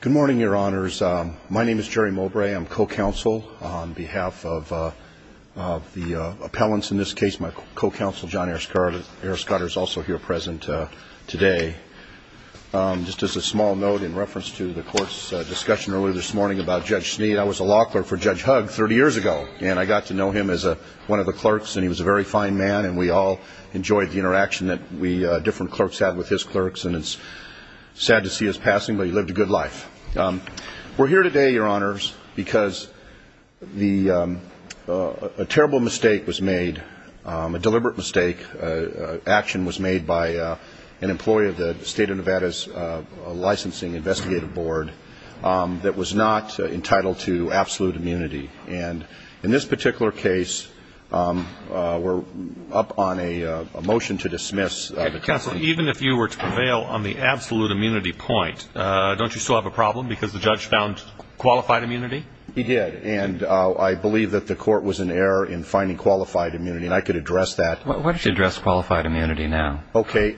Good morning, your honors. My name is Jerry Mowbray. I'm co-counsel on behalf of the appellants in this case. My co-counsel, John Erskotter, is also here present today. Just as a small note in reference to the court's discussion earlier this morning about Judge Snead, I was a law clerk for Judge Hugg 30 years ago, and I got to know him as one of the clerks, and he was a very fine man, and we all enjoyed the interaction that different clerks had with his clerks, and it's sad to see his passing, but he lived a good life. We're here today, your honors, because a terrible mistake was made, a deliberate mistake. Action was made by an employee of the state of Nevada's licensing investigative board that was not entitled to absolute immunity, and in this particular case, we're up on a motion to dismiss the counsel. Even if you were to prevail on the absolute immunity point, don't you still have a problem because the judge found qualified immunity? He did, and I believe that the court was in error in finding qualified immunity, and I could address that. Why don't you address qualified immunity now? Okay.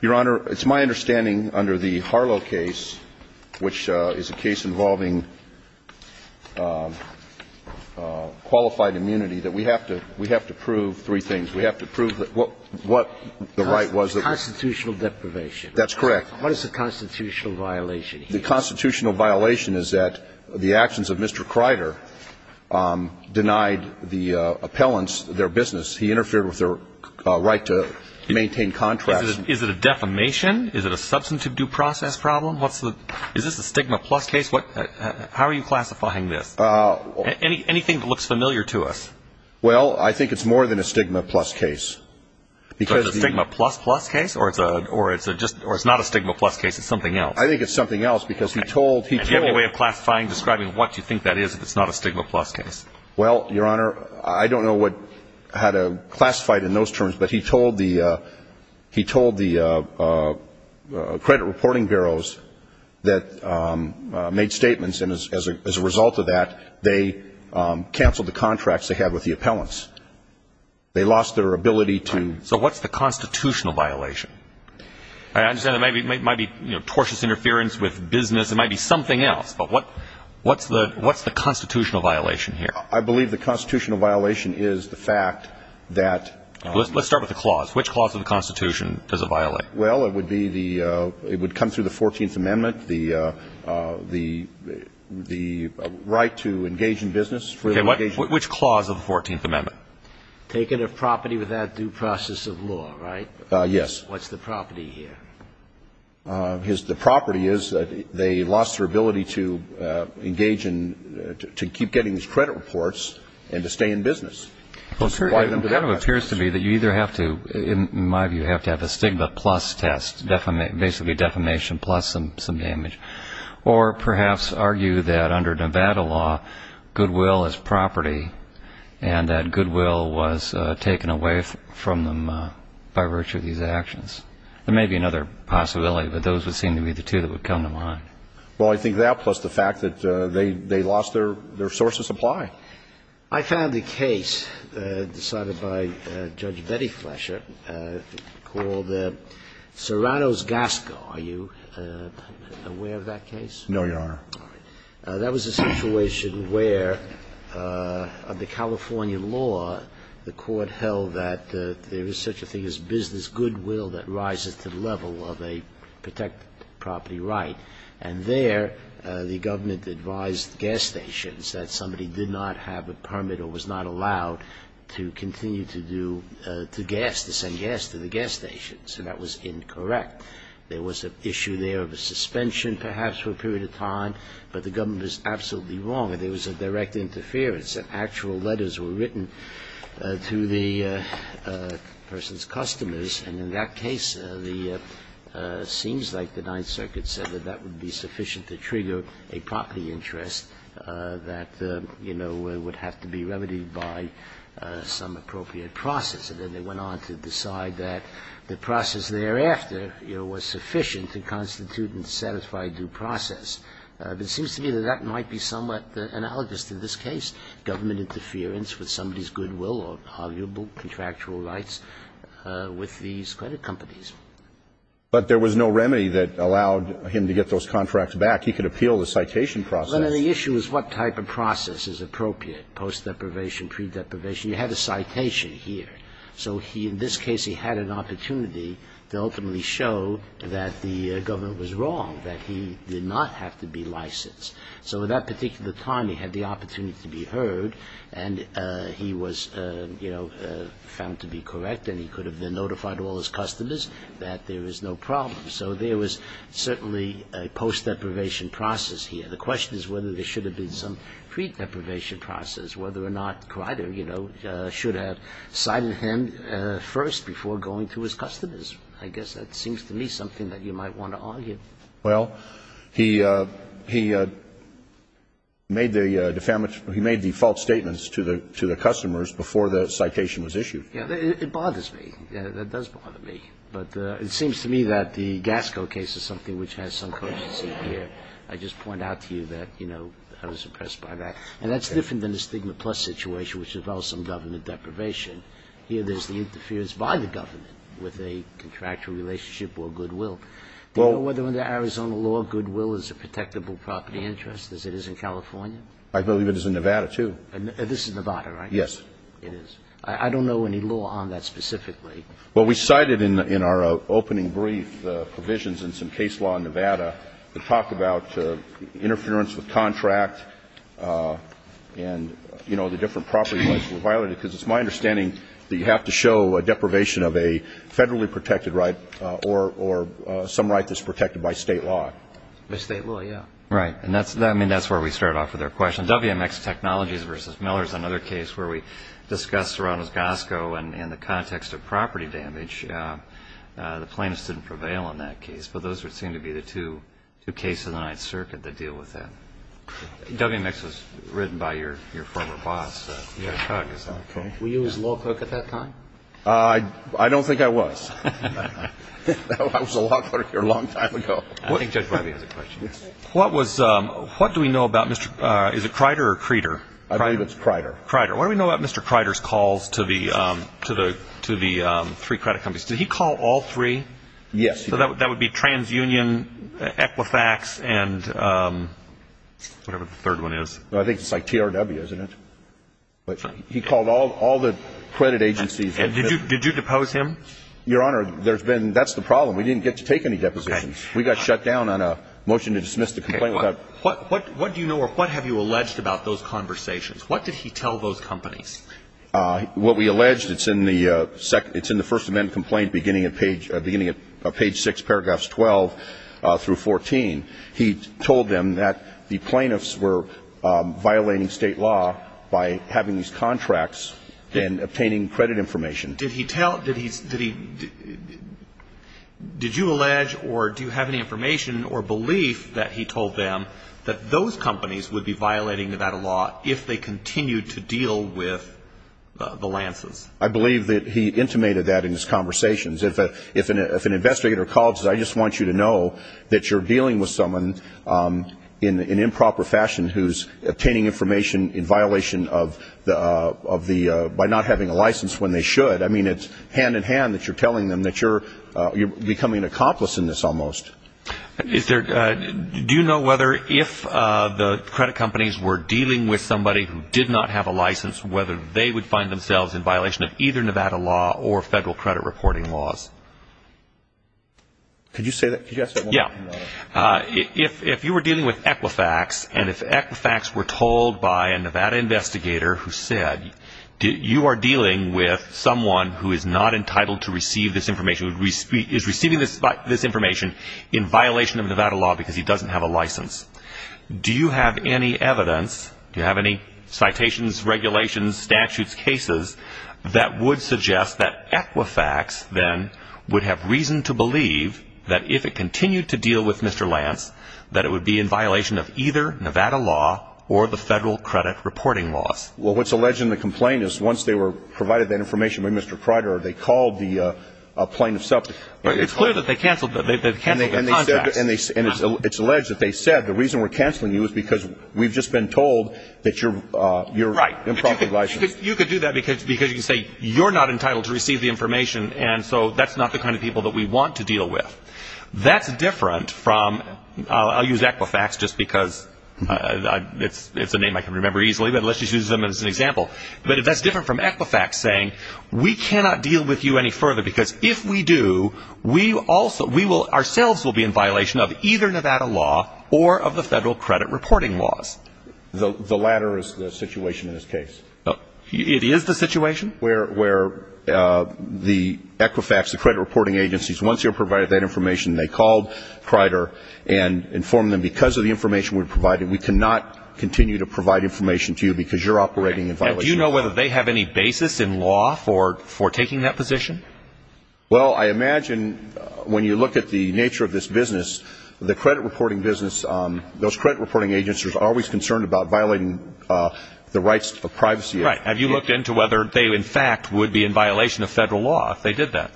Your honor, it's my understanding under the Harlow case, which is a case involving qualified immunity, that we have to prove three things. We have to prove that what the right was. Constitutional deprivation. That's correct. What is the constitutional violation here? The constitutional violation is that the actions of Mr. Kreider denied the appellants their business. He interfered with their right to maintain contracts. Is it a defamation? Is it a substantive due process problem? Is this a stigma plus case? How are you classifying this? Anything that looks familiar to us? Well, I think it's more than a stigma plus case. Is it a stigma plus plus case, or it's not a stigma plus case, it's something else? I think it's something else because he told Do you have any way of classifying, describing what you think that is if it's not a stigma plus case? Well, your honor, I don't know how to classify it in those terms, but he told the credit reporting bureaus that made statements, and as a result of that, they canceled the contracts they had with the appellants. They lost their ability to So what's the constitutional violation? I understand it might be tortious interference with business. It might be something else, but what's the constitutional violation here? I believe the constitutional violation is the fact that Let's start with the clause. Which clause of the Constitution does it violate? Well, it would come through the 14th Amendment, the right to engage in business Which clause of the 14th Amendment? Taking a property without due process of law, right? Yes. What's the property here? The property is that they lost their ability to engage in, to keep getting these credit reports and to stay in business. Well, sir, it appears to me that you either have to, in my view, have to have a stigma plus test, basically defamation plus some damage, or perhaps argue that under Nevada law, goodwill is property, and that goodwill was taken away from them by virtue of these actions. There may be another possibility, but those would seem to be the two that would come to mind. Well, I think that, plus the fact that they lost their source of supply. I found a case decided by Judge Betty Flesher called Serrano's Gasco. Are you aware of that case? No, Your Honor. That was a situation where, under California law, the court held that there is such a thing as business goodwill that rises to the level of a protected property right. And there the government advised gas stations that somebody did not have a permit or was not allowed to continue to do, to gas, to send gas to the gas stations. And that was incorrect. There was an issue there of a suspension, perhaps, for a period of time. But the government was absolutely wrong. There was a direct interference. Actual letters were written to the person's customers. And in that case, it seems like the Ninth Circuit said that that would be sufficient to trigger a property interest that, you know, would have to be remedied by some appropriate process. And then they went on to decide that the process thereafter, you know, was sufficient to constitute and satisfy due process. But it seems to me that that might be somewhat analogous to this case, government interference with somebody's goodwill or arguable contractual rights with these credit companies. But there was no remedy that allowed him to get those contracts back. He could appeal the citation process. Well, then the issue is what type of process is appropriate, post-deprivation, pre-deprivation. You had a citation here. So he, in this case, he had an opportunity to ultimately show that the government was wrong, that he did not have to be licensed. So at that particular time, he had the opportunity to be heard. And he was, you know, found to be correct. And he could have been notified to all his customers that there was no problem. So there was certainly a post-deprivation process here. The question is whether there should have cited him first before going to his customers. I guess that seems to me something that you might want to argue. Well, he made the false statements to the customers before the citation was issued. Yeah. It bothers me. That does bother me. But it seems to me that the Gasco case is something which has some courtesy here. I just point out to you that, you know, I was talking about the Arizona law situation, which involves some government deprivation. Here there's the interference by the government with a contractual relationship or goodwill. Do you know whether in the Arizona law, goodwill is a protectable property interest, as it is in California? I believe it is in Nevada, too. This is Nevada, right? Yes. It is. I don't know any law on that specifically. Well, we cited in our opening brief provisions in some case law in Nevada that talk about interference with contract and, you know, the different property rights that were violated, because it's my understanding that you have to show a deprivation of a federally protected right or some right that's protected by State law. By State law, yeah. Right. And that's where we start off with our question. WMX Technologies v. Miller is another case where we discussed Arizona's Gasco and the context of property damage. The plaintiffs didn't prevail in that case. But those would seem to be the two cases in the Ninth Circuit that deal with that. WMX was written by your former boss, Chuck. Okay. Were you his law clerk at that time? I don't think I was. I was a law clerk here a long time ago. I think Judge Leiby has a question. Yes. What was, what do we know about, is it Crider or Creter? I believe it's Crider. Crider. What do we know about Mr. Crider's calls to the three credit companies? Did he call all three? Yes. So that would be TransUnion, Equifax, and whatever the third one is. I think it's like TRW, isn't it? He called all the credit agencies. Did you depose him? Your Honor, there's been, that's the problem. We didn't get to take any depositions. We got shut down on a motion to dismiss the complaint without What do you know or what have you alleged about those conversations? What did he tell those companies? What we alleged, it's in the first event complaint beginning at page 6, paragraphs 12 through 14. He told them that the plaintiffs were violating state law by having these contracts and obtaining credit information. Did he tell, did he, did you allege or do you have any information or belief that he told them that those companies would be I believe that he intimated that in his conversations. If an investigator calls, I just want you to know that you're dealing with someone in improper fashion who's obtaining information in violation of the, by not having a license when they should. I mean, it's hand in hand that you're telling them that you're becoming an accomplice in this almost. Do you know whether if the credit companies were dealing with somebody who did not have a license, whether they would find themselves in violation of either Nevada law or federal credit reporting laws? Could you say that? Yeah. If you were dealing with Equifax and if Equifax were told by a Nevada investigator who said, you are dealing with someone who is not entitled to receive this information, is receiving this information in violation of Nevada law because he doesn't have a license. Do you have any evidence, do you have any citations, regulations, statutes, cases, that would suggest that Equifax then would have reason to believe that if it continued to deal with Mr. Lance, that it would be in violation of either Nevada law or the federal credit reporting laws? Well, what's alleged in the complaint is once they were provided that information by Mr. Crider, they called the plaintiff's office. It's clear that they canceled the contract. And it's alleged that they said the reason we're canceling you is because we've just been told that you're improperly licensed. You could do that because you say you're not entitled to receive the information and so that's not the kind of people that we want to deal with. That's different from, I'll use Equifax just because it's a name I can remember easily, but let's just use them as an example. But that's different from Equifax saying we cannot deal with you any further because if we do, we also, we will, ourselves will be in violation of either Nevada law or of the federal credit reporting laws. The latter is the situation in this case. It is the situation. Where the Equifax, the credit reporting agencies, once you're provided that information, they called Crider and informed them because of the information we provided, we cannot continue to provide information to you because you're operating in violation of Nevada law. Do you know whether they have any basis in law for taking that position? Well, I imagine when you look at the nature of this business, the credit reporting business, those credit reporting agencies are always concerned about violating the rights of privacy. Right. Have you looked into whether they in fact would be in violation of federal law if they did that?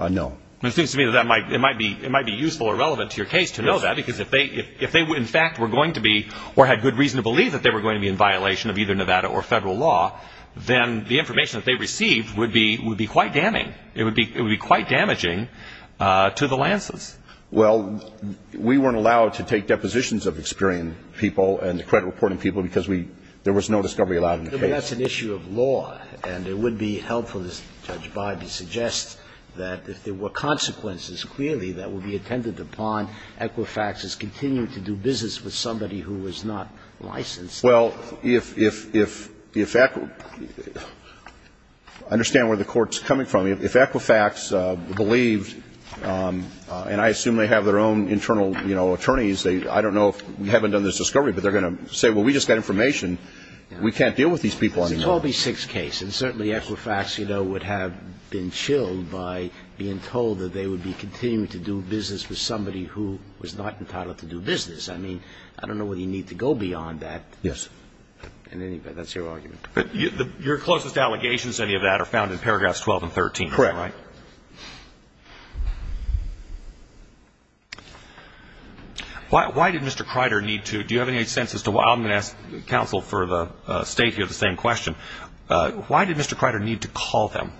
No. It seems to me that it might be useful or relevant to your case to know that because if they in fact were going to be or had good reason to believe that they were going to be in violation of either Nevada or federal law, then the information that they received would be quite damning. It would be quite damaging to the lances. Well, we weren't allowed to take depositions of Experian people and the credit reporting people because there was no discovery allowed in the case. But that's an issue of law. And it would be helpful, as Judge Biden suggests, that if there were consequences clearly that would be attended upon, Equifax is continuing to do business with somebody who is not licensed. Well, if Equifax – understand where the Court's coming from. If Equifax believed, and I assume they have their own internal, you know, attorneys, they – I don't know if – haven't done this discovery, but they're going to say, well, we just got information. We can't deal with these people anymore. It's a Toby Six case. And certainly Equifax, you know, would have been chilled by being told that they would be continuing to do business with somebody who was not entitled to do business. I mean, I don't know whether you need to go beyond that. Yes. And anyway, that's your argument. But your closest allegations, any of that, are found in paragraphs 12 and 13, am I right? Correct. Why did Mr. Kreider need to – do you have any sense as to why – I'm going to ask counsel for the State here the same question. Why did Mr. Kreider need to call them?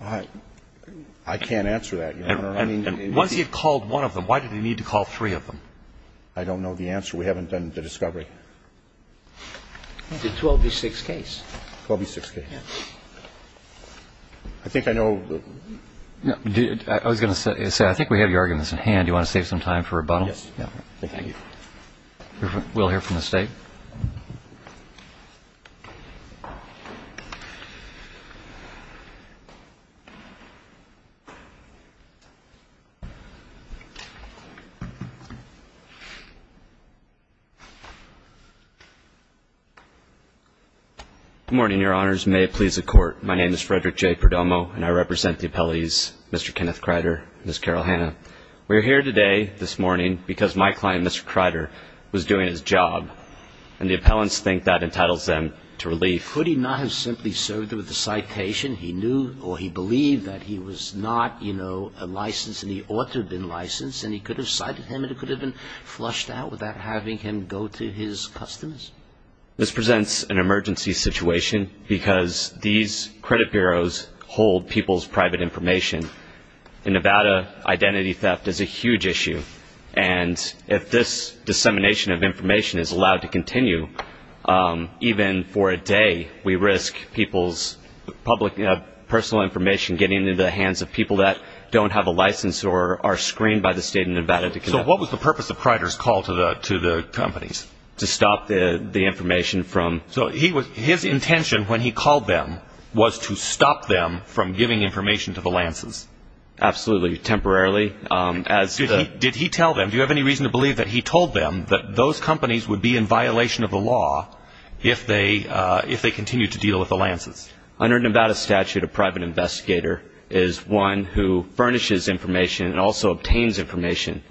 I can't answer that, Your Honor. Once he had called one of them, why did he need to call three of them? I don't know the answer. We haven't done the discovery. It's a Toby Six case. Toby Six case. I think I know the – I was going to say, I think we have your arguments in hand. Do you want to save some time for rebuttal? Yes. Thank you. We'll hear from the State. Good morning, Your Honors. May it please the Court, my name is Frederick J. Perdomo, and I represent the appellees Mr. Kenneth Kreider and Ms. Carol Hanna. We're here today, this morning, because my client, Mr. Kreider, was doing his job, and the appellants think that entitles them to relief. Could he not have simply served with a citation? He knew or he believed that he was not, you know, licensed and he ought to have been licensed, and he could have cited him and it could have been flushed out without having him go to his customers. This presents an emergency situation because these credit bureaus hold people's private information. In Nevada, identity theft is a huge issue, and if this dissemination of information is allowed to continue, even for a day we risk people's personal information getting into the hands of people that don't have a license or are screened by the State of Nevada. So what was the purpose of Kreider's call to the companies? To stop the information from – So his intention when he called them was to stop them from giving information to the Lances? Absolutely. Temporarily. Did he tell them – do you have any reason to believe that he told them that those companies would be in violation of the law if they continued to deal with the Lances? Under Nevada statute, a private investigator is one who furnishes information and also obtains information.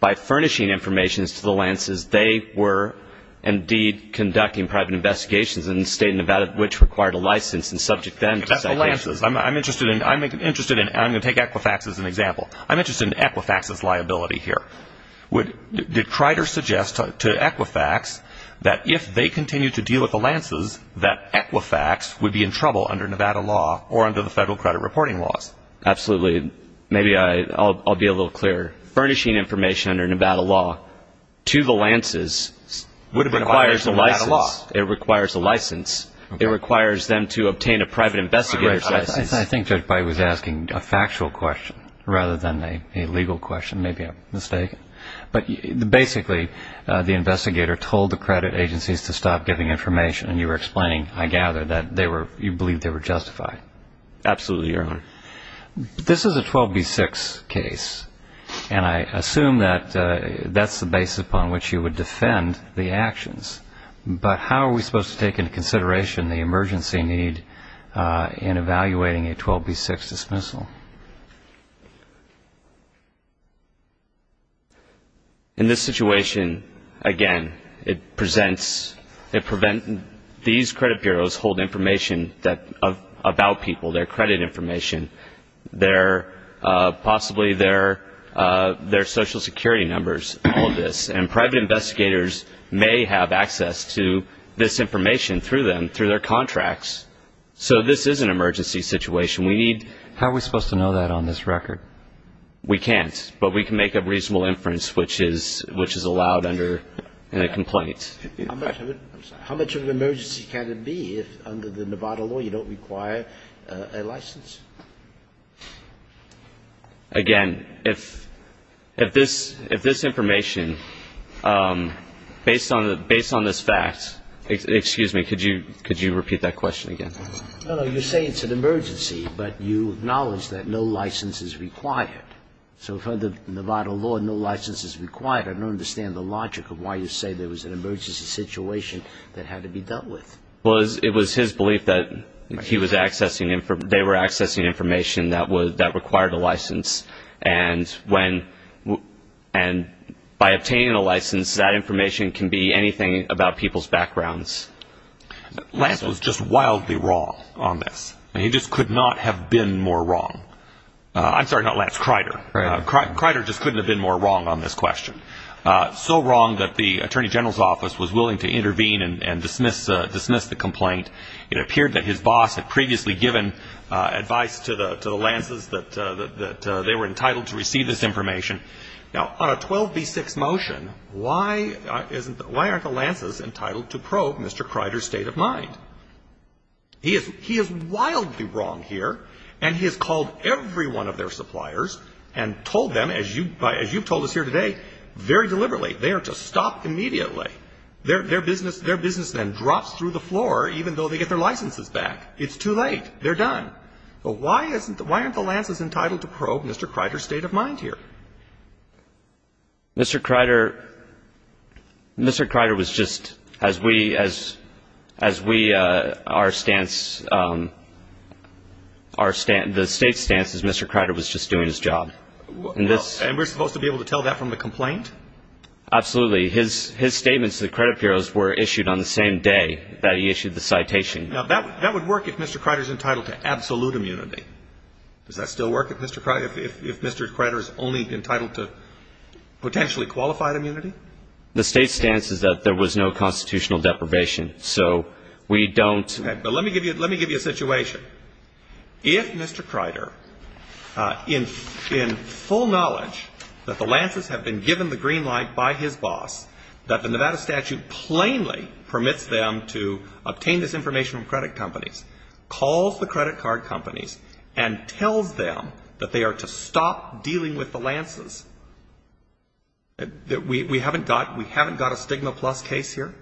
By furnishing information to the Lances, they were indeed conducting private investigations in the State of Nevada, which required a license and subject them to citations. That's the Lances. I'm interested in – I'm going to take Equifax as an example. I'm interested in Equifax's liability here. Did Kreider suggest to Equifax that if they continued to deal with the Lances, that Equifax would be in trouble under Nevada law or under the federal credit reporting laws? Absolutely. Maybe I'll be a little clearer. Furnishing information under Nevada law to the Lances requires a license. It requires a license. It requires them to obtain a private investigator's license. I think Judge Pai was asking a factual question rather than a legal question. Maybe I'm mistaken. But basically, the investigator told the credit agencies to stop giving information, and you were explaining, I gather, that you believe they were justified. Absolutely, Your Honor. This is a 12b-6 case, and I assume that that's the basis upon which you would defend the actions. But how are we supposed to take into consideration the emergency need in evaluating a 12b-6 dismissal? In this situation, again, it presents – it prevents – these credit bureaus hold information about people, their credit information, possibly their Social Security numbers, all of this. And private investigators may have access to this information through them, through their contracts. So this is an emergency situation. How are we supposed to know that on this record? We can't, but we can make a reasonable inference, which is allowed under a complaint. How much of an emergency can it be if under the Nevada law you don't require a license? Again, if this information, based on this fact – excuse me. Could you repeat that question again? No, no. You say it's an emergency, but you acknowledge that no license is required. So if under the Nevada law no license is required, I don't understand the logic of why you say there was an emergency situation that had to be dealt with. Well, it was his belief that they were accessing information that required a license. And by obtaining a license, that information can be anything about people's backgrounds. Lance was just wildly wrong on this. He just could not have been more wrong. I'm sorry, not Lance. Crider. Crider just couldn't have been more wrong on this question. So wrong that the Attorney General's office was willing to intervene and dismiss the complaint. It appeared that his boss had previously given advice to the Lances that they were entitled to receive this information. Now, on a 12b-6 motion, why aren't the Lances entitled to probe Mr. Crider's state of mind? He is wildly wrong here, and he has called every one of their suppliers and told them, as you've told us here today, very deliberately. They are to stop immediately. Their business then drops through the floor even though they get their licenses back. It's too late. They're done. But why aren't the Lances entitled to probe Mr. Crider's state of mind here? Mr. Crider was just, as we, our stance, the state's stance is Mr. Crider was just doing his job. And we're supposed to be able to tell that from the complaint? Absolutely. His statements to the credit bureaus were issued on the same day that he issued the citation. Now, that would work if Mr. Crider's entitled to absolute immunity. Does that still work if Mr. Crider's only entitled to potentially qualified immunity? The state's stance is that there was no constitutional deprivation. So we don't. But let me give you a situation. If Mr. Crider, in full knowledge that the Lances have been given the green light by his boss, that the Nevada statute plainly permits them to obtain this information from credit companies, calls the credit card companies, and tells them that they are to stop dealing with the Lances, we haven't got a stigma plus case here?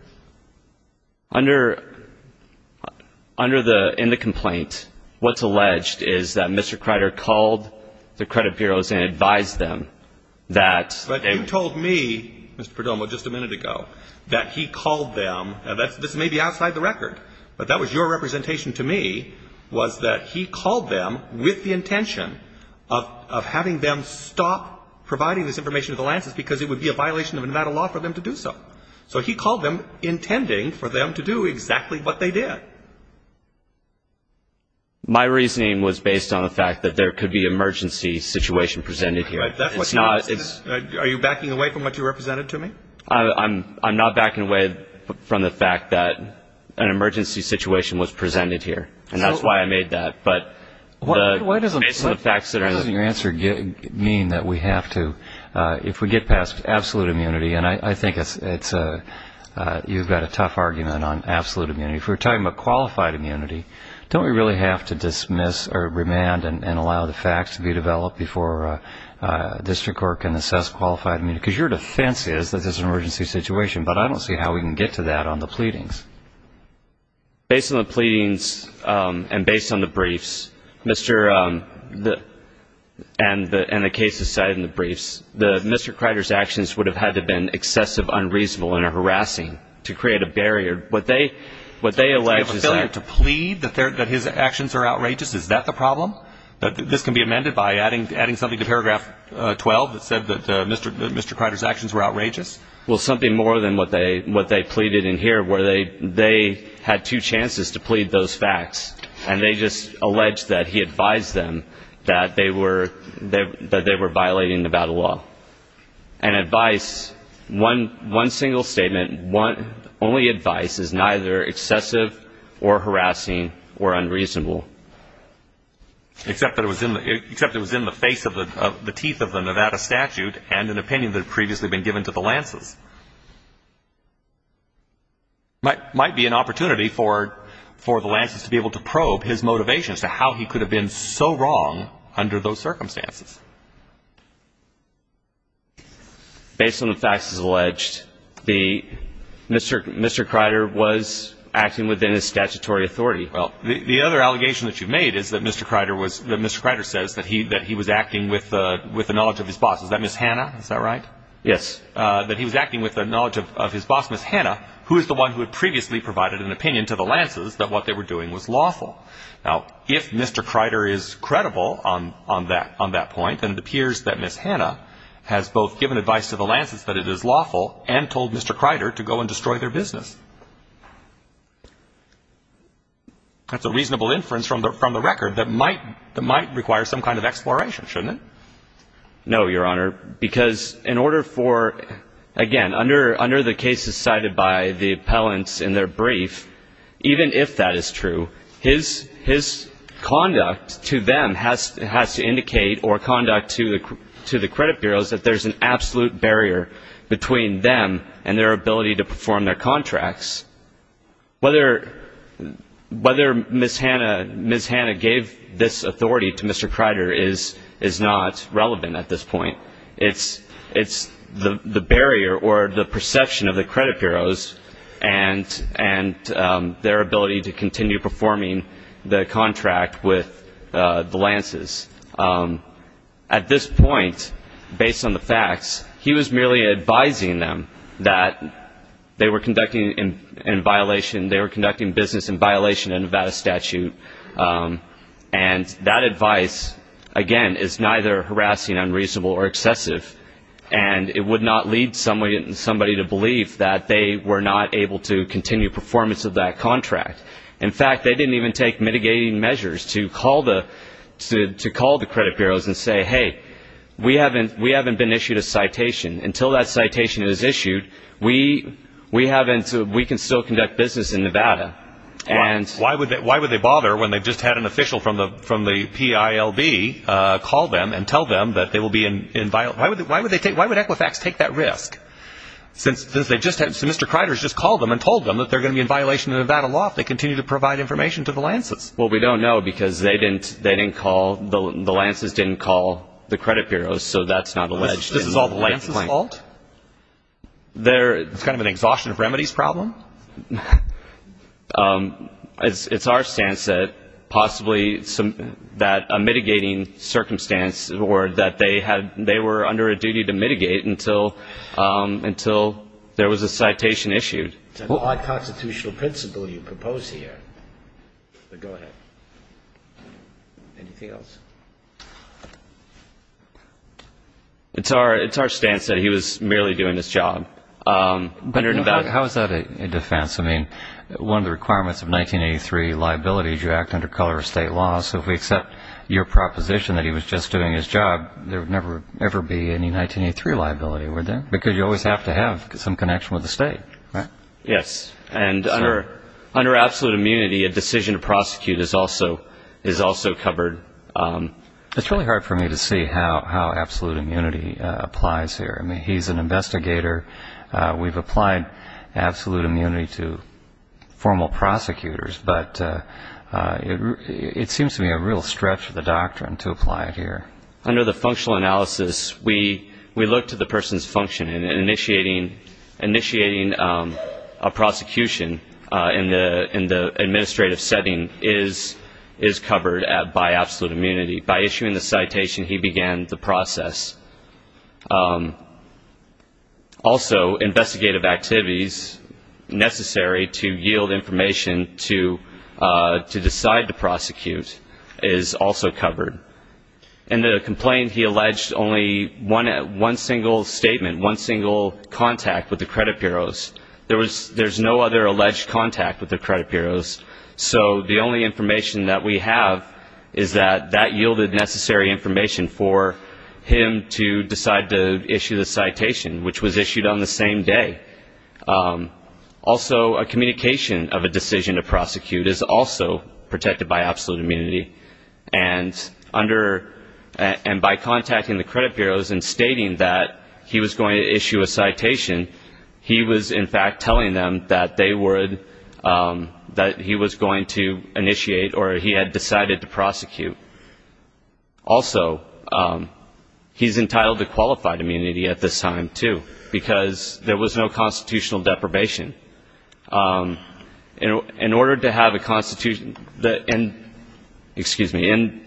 Under the, in the complaint, what's alleged is that Mr. Crider called the credit bureaus and advised them that they But you told me, Mr. Perdomo, just a minute ago, that he called them, and this may be outside the record, but that was your representation to me, was that he called them with the intention of having them stop providing this information to the Lances because it would be a violation of Nevada law for them to do so. So he called them intending for them to do exactly what they did. My reasoning was based on the fact that there could be emergency situation presented here. That's what you're asking. Are you backing away from what you represented to me? I'm not backing away from the fact that an emergency situation was presented here. And that's why I made that. But based on the facts that are in it. Why doesn't your answer mean that we have to, if we get past absolute immunity, and I think it's, you've got a tough argument on absolute immunity. If we're talking about qualified immunity, don't we really have to dismiss or remand and allow the facts to be developed before district court can assess qualified immunity? Because your defense is that this is an emergency situation, but I don't see how we can get to that on the pleadings. Based on the pleadings and based on the briefs, and the cases cited in the briefs, Mr. Crider's actions would have had to have been excessive, unreasonable, and harassing to create a barrier. What they allege is that. To plead that his actions are outrageous, is that the problem? This can be amended by adding something to paragraph 12 that said that Mr. Crider's actions were outrageous? Well, something more than what they pleaded in here, where they had two chances to plead those facts, and they just alleged that he advised them that they were violating Nevada law. And advice, one single statement, only advice is neither excessive or harassing or unreasonable. Except that it was in the face of the teeth of the Nevada statute and an opinion that had previously been given to the Lances. It might be an opportunity for the Lances to be able to probe his motivations as to how he could have been so wrong under those circumstances. Based on the facts as alleged, Mr. Crider was acting within his statutory authority. Well, the other allegation that you've made is that Mr. Crider says that he was acting with the knowledge of his boss. Is that Ms. Hannah? Is that right? Yes. That he was acting with the knowledge of his boss, Ms. Hannah, who is the one who had previously provided an opinion to the Lances that what they were doing was lawful. Now, if Mr. Crider is credible on that point, then it appears that Ms. Hannah has both given advice to the Lances that it is lawful and told Mr. Crider to go and destroy their business. That's a reasonable inference from the record that might require some kind of exploration, shouldn't it? No, Your Honor, because in order for, again, under the cases cited by the appellants in their brief, even if that is true, his conduct to them has to indicate or conduct to the credit bureaus that there's an absolute barrier between them and their ability to perform their contracts. Whether Ms. Hannah gave this authority to Mr. Crider is not relevant at this point. It's the barrier or the perception of the credit bureaus and their ability to continue performing the contract with the Lances. At this point, based on the facts, he was merely advising them that they were conducting business in violation of Nevada statute. And that advice, again, is neither harassing, unreasonable, or excessive. And it would not lead somebody to believe that they were not able to continue performance of that contract. In fact, they didn't even take mitigating measures to call the credit bureaus and say, hey, we haven't been issued a citation. Until that citation is issued, we can still conduct business in Nevada. Why would they bother when they've just had an official from the PILB call them and tell them that they will be in violation? Why would Equifax take that risk? Since Mr. Crider has just called them and told them that they're going to be in violation of Nevada law if they continue to provide information to the Lances. Well, we don't know because the Lances didn't call the credit bureaus, so that's not alleged. This is all the Lances' fault? It's kind of an exhaustion of remedies problem? It's our stance that possibly a mitigating circumstance or that they were under a duty to mitigate until there was a citation issued. It's an odd constitutional principle you propose here. But go ahead. Anything else? It's our stance that he was merely doing his job. How is that a defense? I mean, one of the requirements of 1983 liability is you act under color of state law. So if we accept your proposition that he was just doing his job, there would never, ever be any 1983 liability, would there? Because you always have to have some connection with the state, right? Yes. And under absolute immunity, a decision to prosecute is also covered. It's really hard for me to see how absolute immunity applies here. I mean, he's an investigator. We've applied absolute immunity to formal prosecutors, but it seems to me a real stretch of the doctrine to apply it here. Under the functional analysis, we look to the person's function, and initiating a prosecution in the administrative setting is covered by absolute immunity. By issuing the citation, he began the process. Also, investigative activities necessary to yield information to decide to prosecute is also covered. In the complaint, he alleged only one single statement, one single contact with the credit bureaus. There's no other alleged contact with the credit bureaus. So the only information that we have is that that yielded necessary information for him to decide to issue the citation, which was issued on the same day. Also, a communication of a decision to prosecute is also protected by absolute immunity. And by contacting the credit bureaus and stating that he was going to issue a citation, he was, in fact, telling them that they would, that he was going to initiate or he had decided to prosecute. Also, he's entitled to qualified immunity at this time, too, because there was no constitutional deprivation. In order to have a constitutional, excuse me, in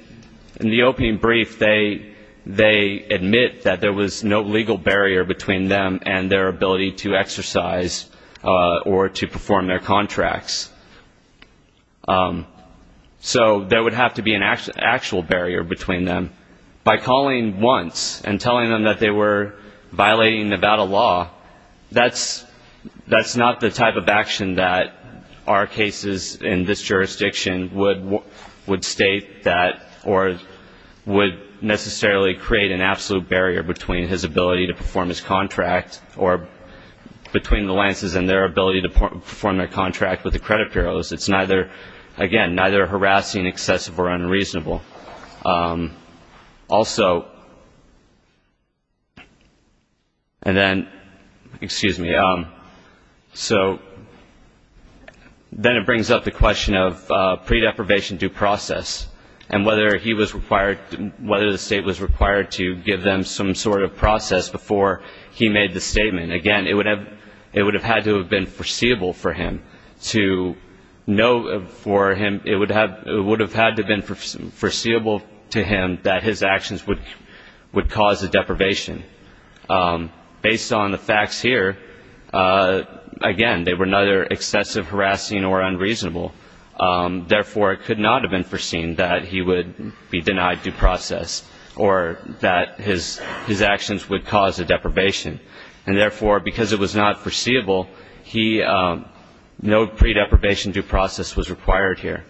the opening brief, they admit that there was no legal barrier between them and their ability to exercise or to perform their contracts. So there would have to be an actual barrier between them. By calling once and telling them that they were violating Nevada law, that's not the type of action that our cases in this jurisdiction would state that or would necessarily create an absolute barrier between his ability to perform his contract or between the Lances and their ability to perform their contract with the credit bureaus. It's neither, again, neither harassing, excessive or unreasonable. Also, and then, excuse me, so then it brings up the question of pre-deprivation due process and whether he was required, whether the State was required to give them some sort of process before he made the statement. Again, it would have had to have been foreseeable for him to know for him, it would have had to have been foreseeable to him that his actions would cause a deprivation. Based on the facts here, again, they were neither excessive, harassing or unreasonable. Therefore, it could not have been foreseen that he would be denied due process or that his actions would cause a deprivation. And therefore, because it was not foreseeable, no pre-deprivation due process was required here.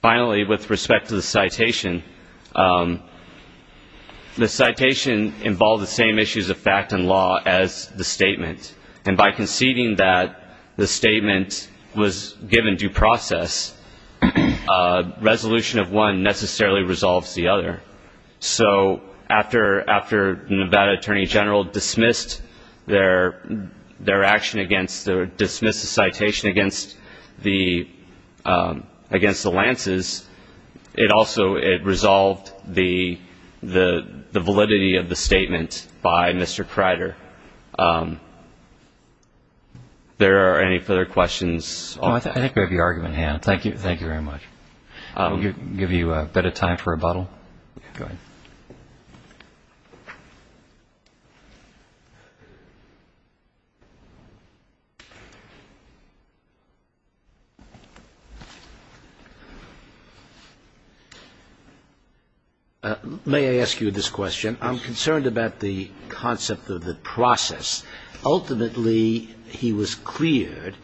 Finally, with respect to the citation, the citation involved the same issues of fact and law as the statement. And by conceding that the statement was given due process, resolution of one necessarily resolves the other. So after Nevada Attorney General dismissed their action against, dismissed the citation against the Lances, it also resolved the validity of the statement by Mr. Kreider. There are any further questions? Oh, I think we have your argument in hand. Thank you. Thank you very much. I'll give you a bit of time for rebuttal. Go ahead. May I ask you this question? I'm concerned about the concept of the process. Ultimately, he was cleared.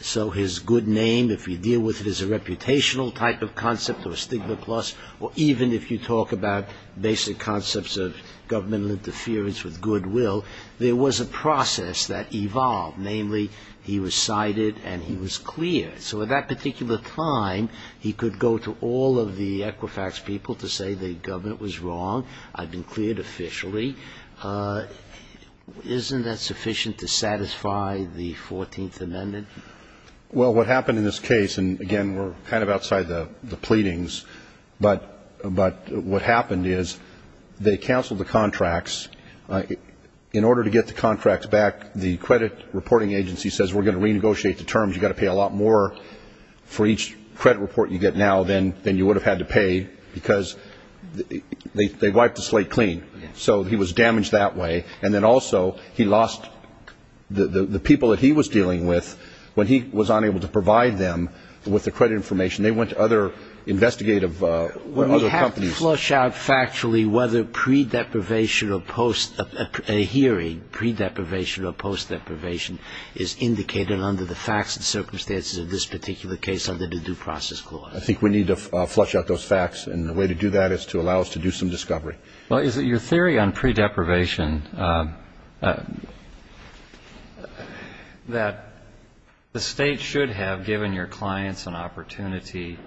So his good name, if you deal with it as a reputational type of concept or stigma plus, or even if you talk about basic concepts of governmental interference with goodwill, there was a process that evolved. Namely, he was cited and he was cleared. So at that particular time, he could go to all of the Equifax people to say the government was wrong. I've been cleared officially. Isn't that sufficient to satisfy the 14th Amendment? Well, what happened in this case, and, again, we're kind of outside the pleadings, but what happened is they canceled the contracts. In order to get the contracts back, the credit reporting agency says we're going to renegotiate the terms. You've got to pay a lot more for each credit report you get now than you would have had to pay because they wiped the slate clean. So he was damaged that way. And then also he lost the people that he was dealing with when he was unable to provide them with the credit information. They went to other investigative companies. We have to flush out factually whether a hearing, pre-deprivation or post-deprivation, is indicated under the facts and circumstances of this particular case under the Due Process Clause. I think we need to flush out those facts, and the way to do that is to allow us to do some discovery. Well, is it your theory on pre-deprivation that the State should have given your clients an opportunity,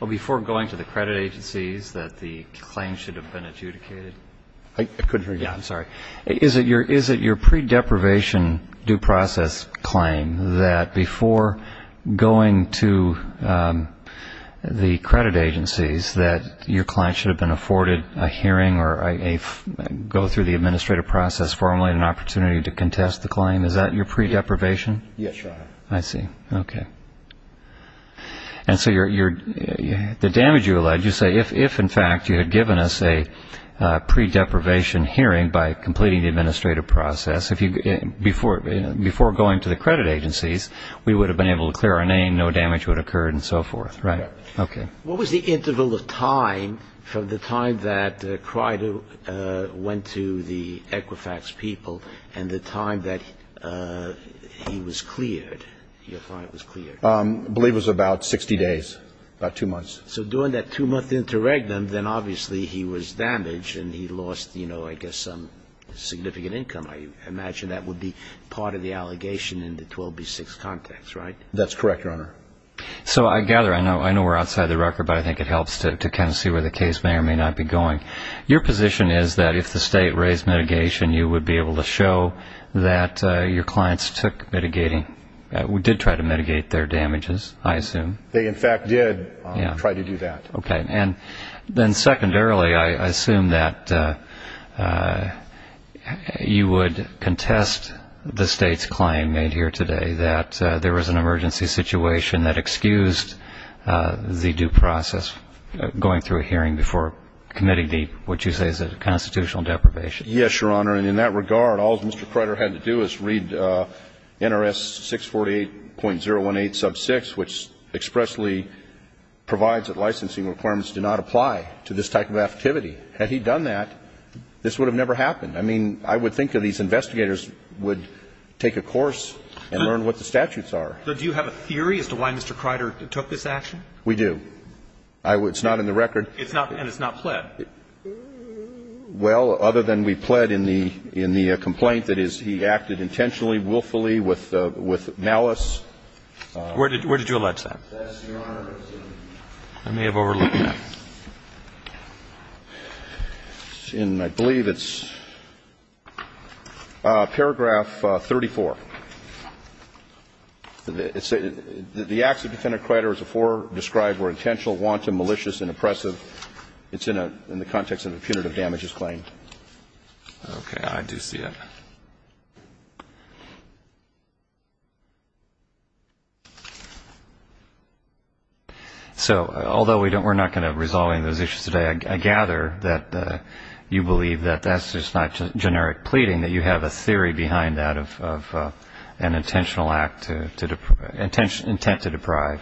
well, before going to the credit agencies, that the claim should have been adjudicated? I couldn't hear you. I'm sorry. Is it your pre-deprivation due process claim that before going to the credit agencies, that your client should have been afforded a hearing or go through the administrative process formally and an opportunity to contest the claim? Is that your pre-deprivation? Yes, Your Honor. I see. Okay. And so the damage you allege, you say if, in fact, you had given us a pre-deprivation hearing by completing the administrative process, before going to the credit agencies, we would have been able to clear our name, no damage would have occurred and so forth. Right. Okay. What was the interval of time from the time that Crider went to the Equifax people and the time that he was cleared, your client was cleared? I believe it was about 60 days, about two months. So during that two-month interregnum, then obviously he was damaged and he lost, you know, I guess some significant income. I imagine that would be part of the allegation in the 12B6 context, right? That's correct, Your Honor. So I gather, I know we're outside the record, but I think it helps to kind of see where the case may or may not be going. Your position is that if the state raised mitigation, you would be able to show that your clients took mitigating, did try to mitigate their damages, I assume? They, in fact, did try to do that. Okay. And then secondarily, I assume that you would contest the State's claim made here today that there was an emergency situation that excused the due process going through a hearing before committing the, what you say is a constitutional deprivation. Yes, Your Honor. And in that regard, all Mr. Crider had to do is read NRS 648.018 sub 6, which expressly provides that licensing requirements do not apply to this type of activity. Had he done that, this would have never happened. I mean, I would think that these investigators would take a course and learn what the statutes are. Do you have a theory as to why Mr. Crider took this action? We do. It's not in the record. And it's not pled. Well, other than we pled in the complaint that he acted intentionally, willfully, with malice. Where did you allege that? Yes, Your Honor. I may have overlooked that. And I believe it's paragraph 34. It says, The acts of Defendant Crider as before described were intentional, wanton, malicious, and oppressive. It's in the context of a punitive damages claim. Okay. I do see it. So, although we're not going to resolve any of those issues today, I gather that you believe that that's just not generic pleading, that you have a theory behind that of an intentional act, intent to deprive.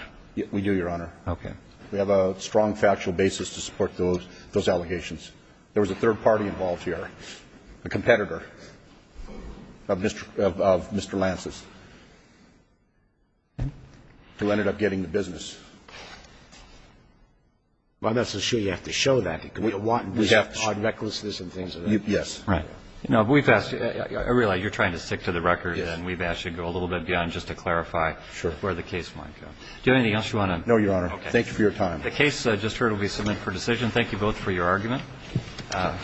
We do, Your Honor. Okay. We have a strong factual basis to support those allegations. There was a third party involved here, a competitor. A competitor of Mr. Lance's, who ended up getting the business. Well, I'm not so sure you have to show that. We have odd recklessness and things. Yes. Right. No, but we've asked you. I realize you're trying to stick to the record. Yes. And we've asked you to go a little bit beyond just to clarify where the case might go. Sure. Do you have anything else you want to? No, Your Honor. Okay. Thank you for your time. The case just heard will be submitted for decision. Thank you both for your argument. Thank you.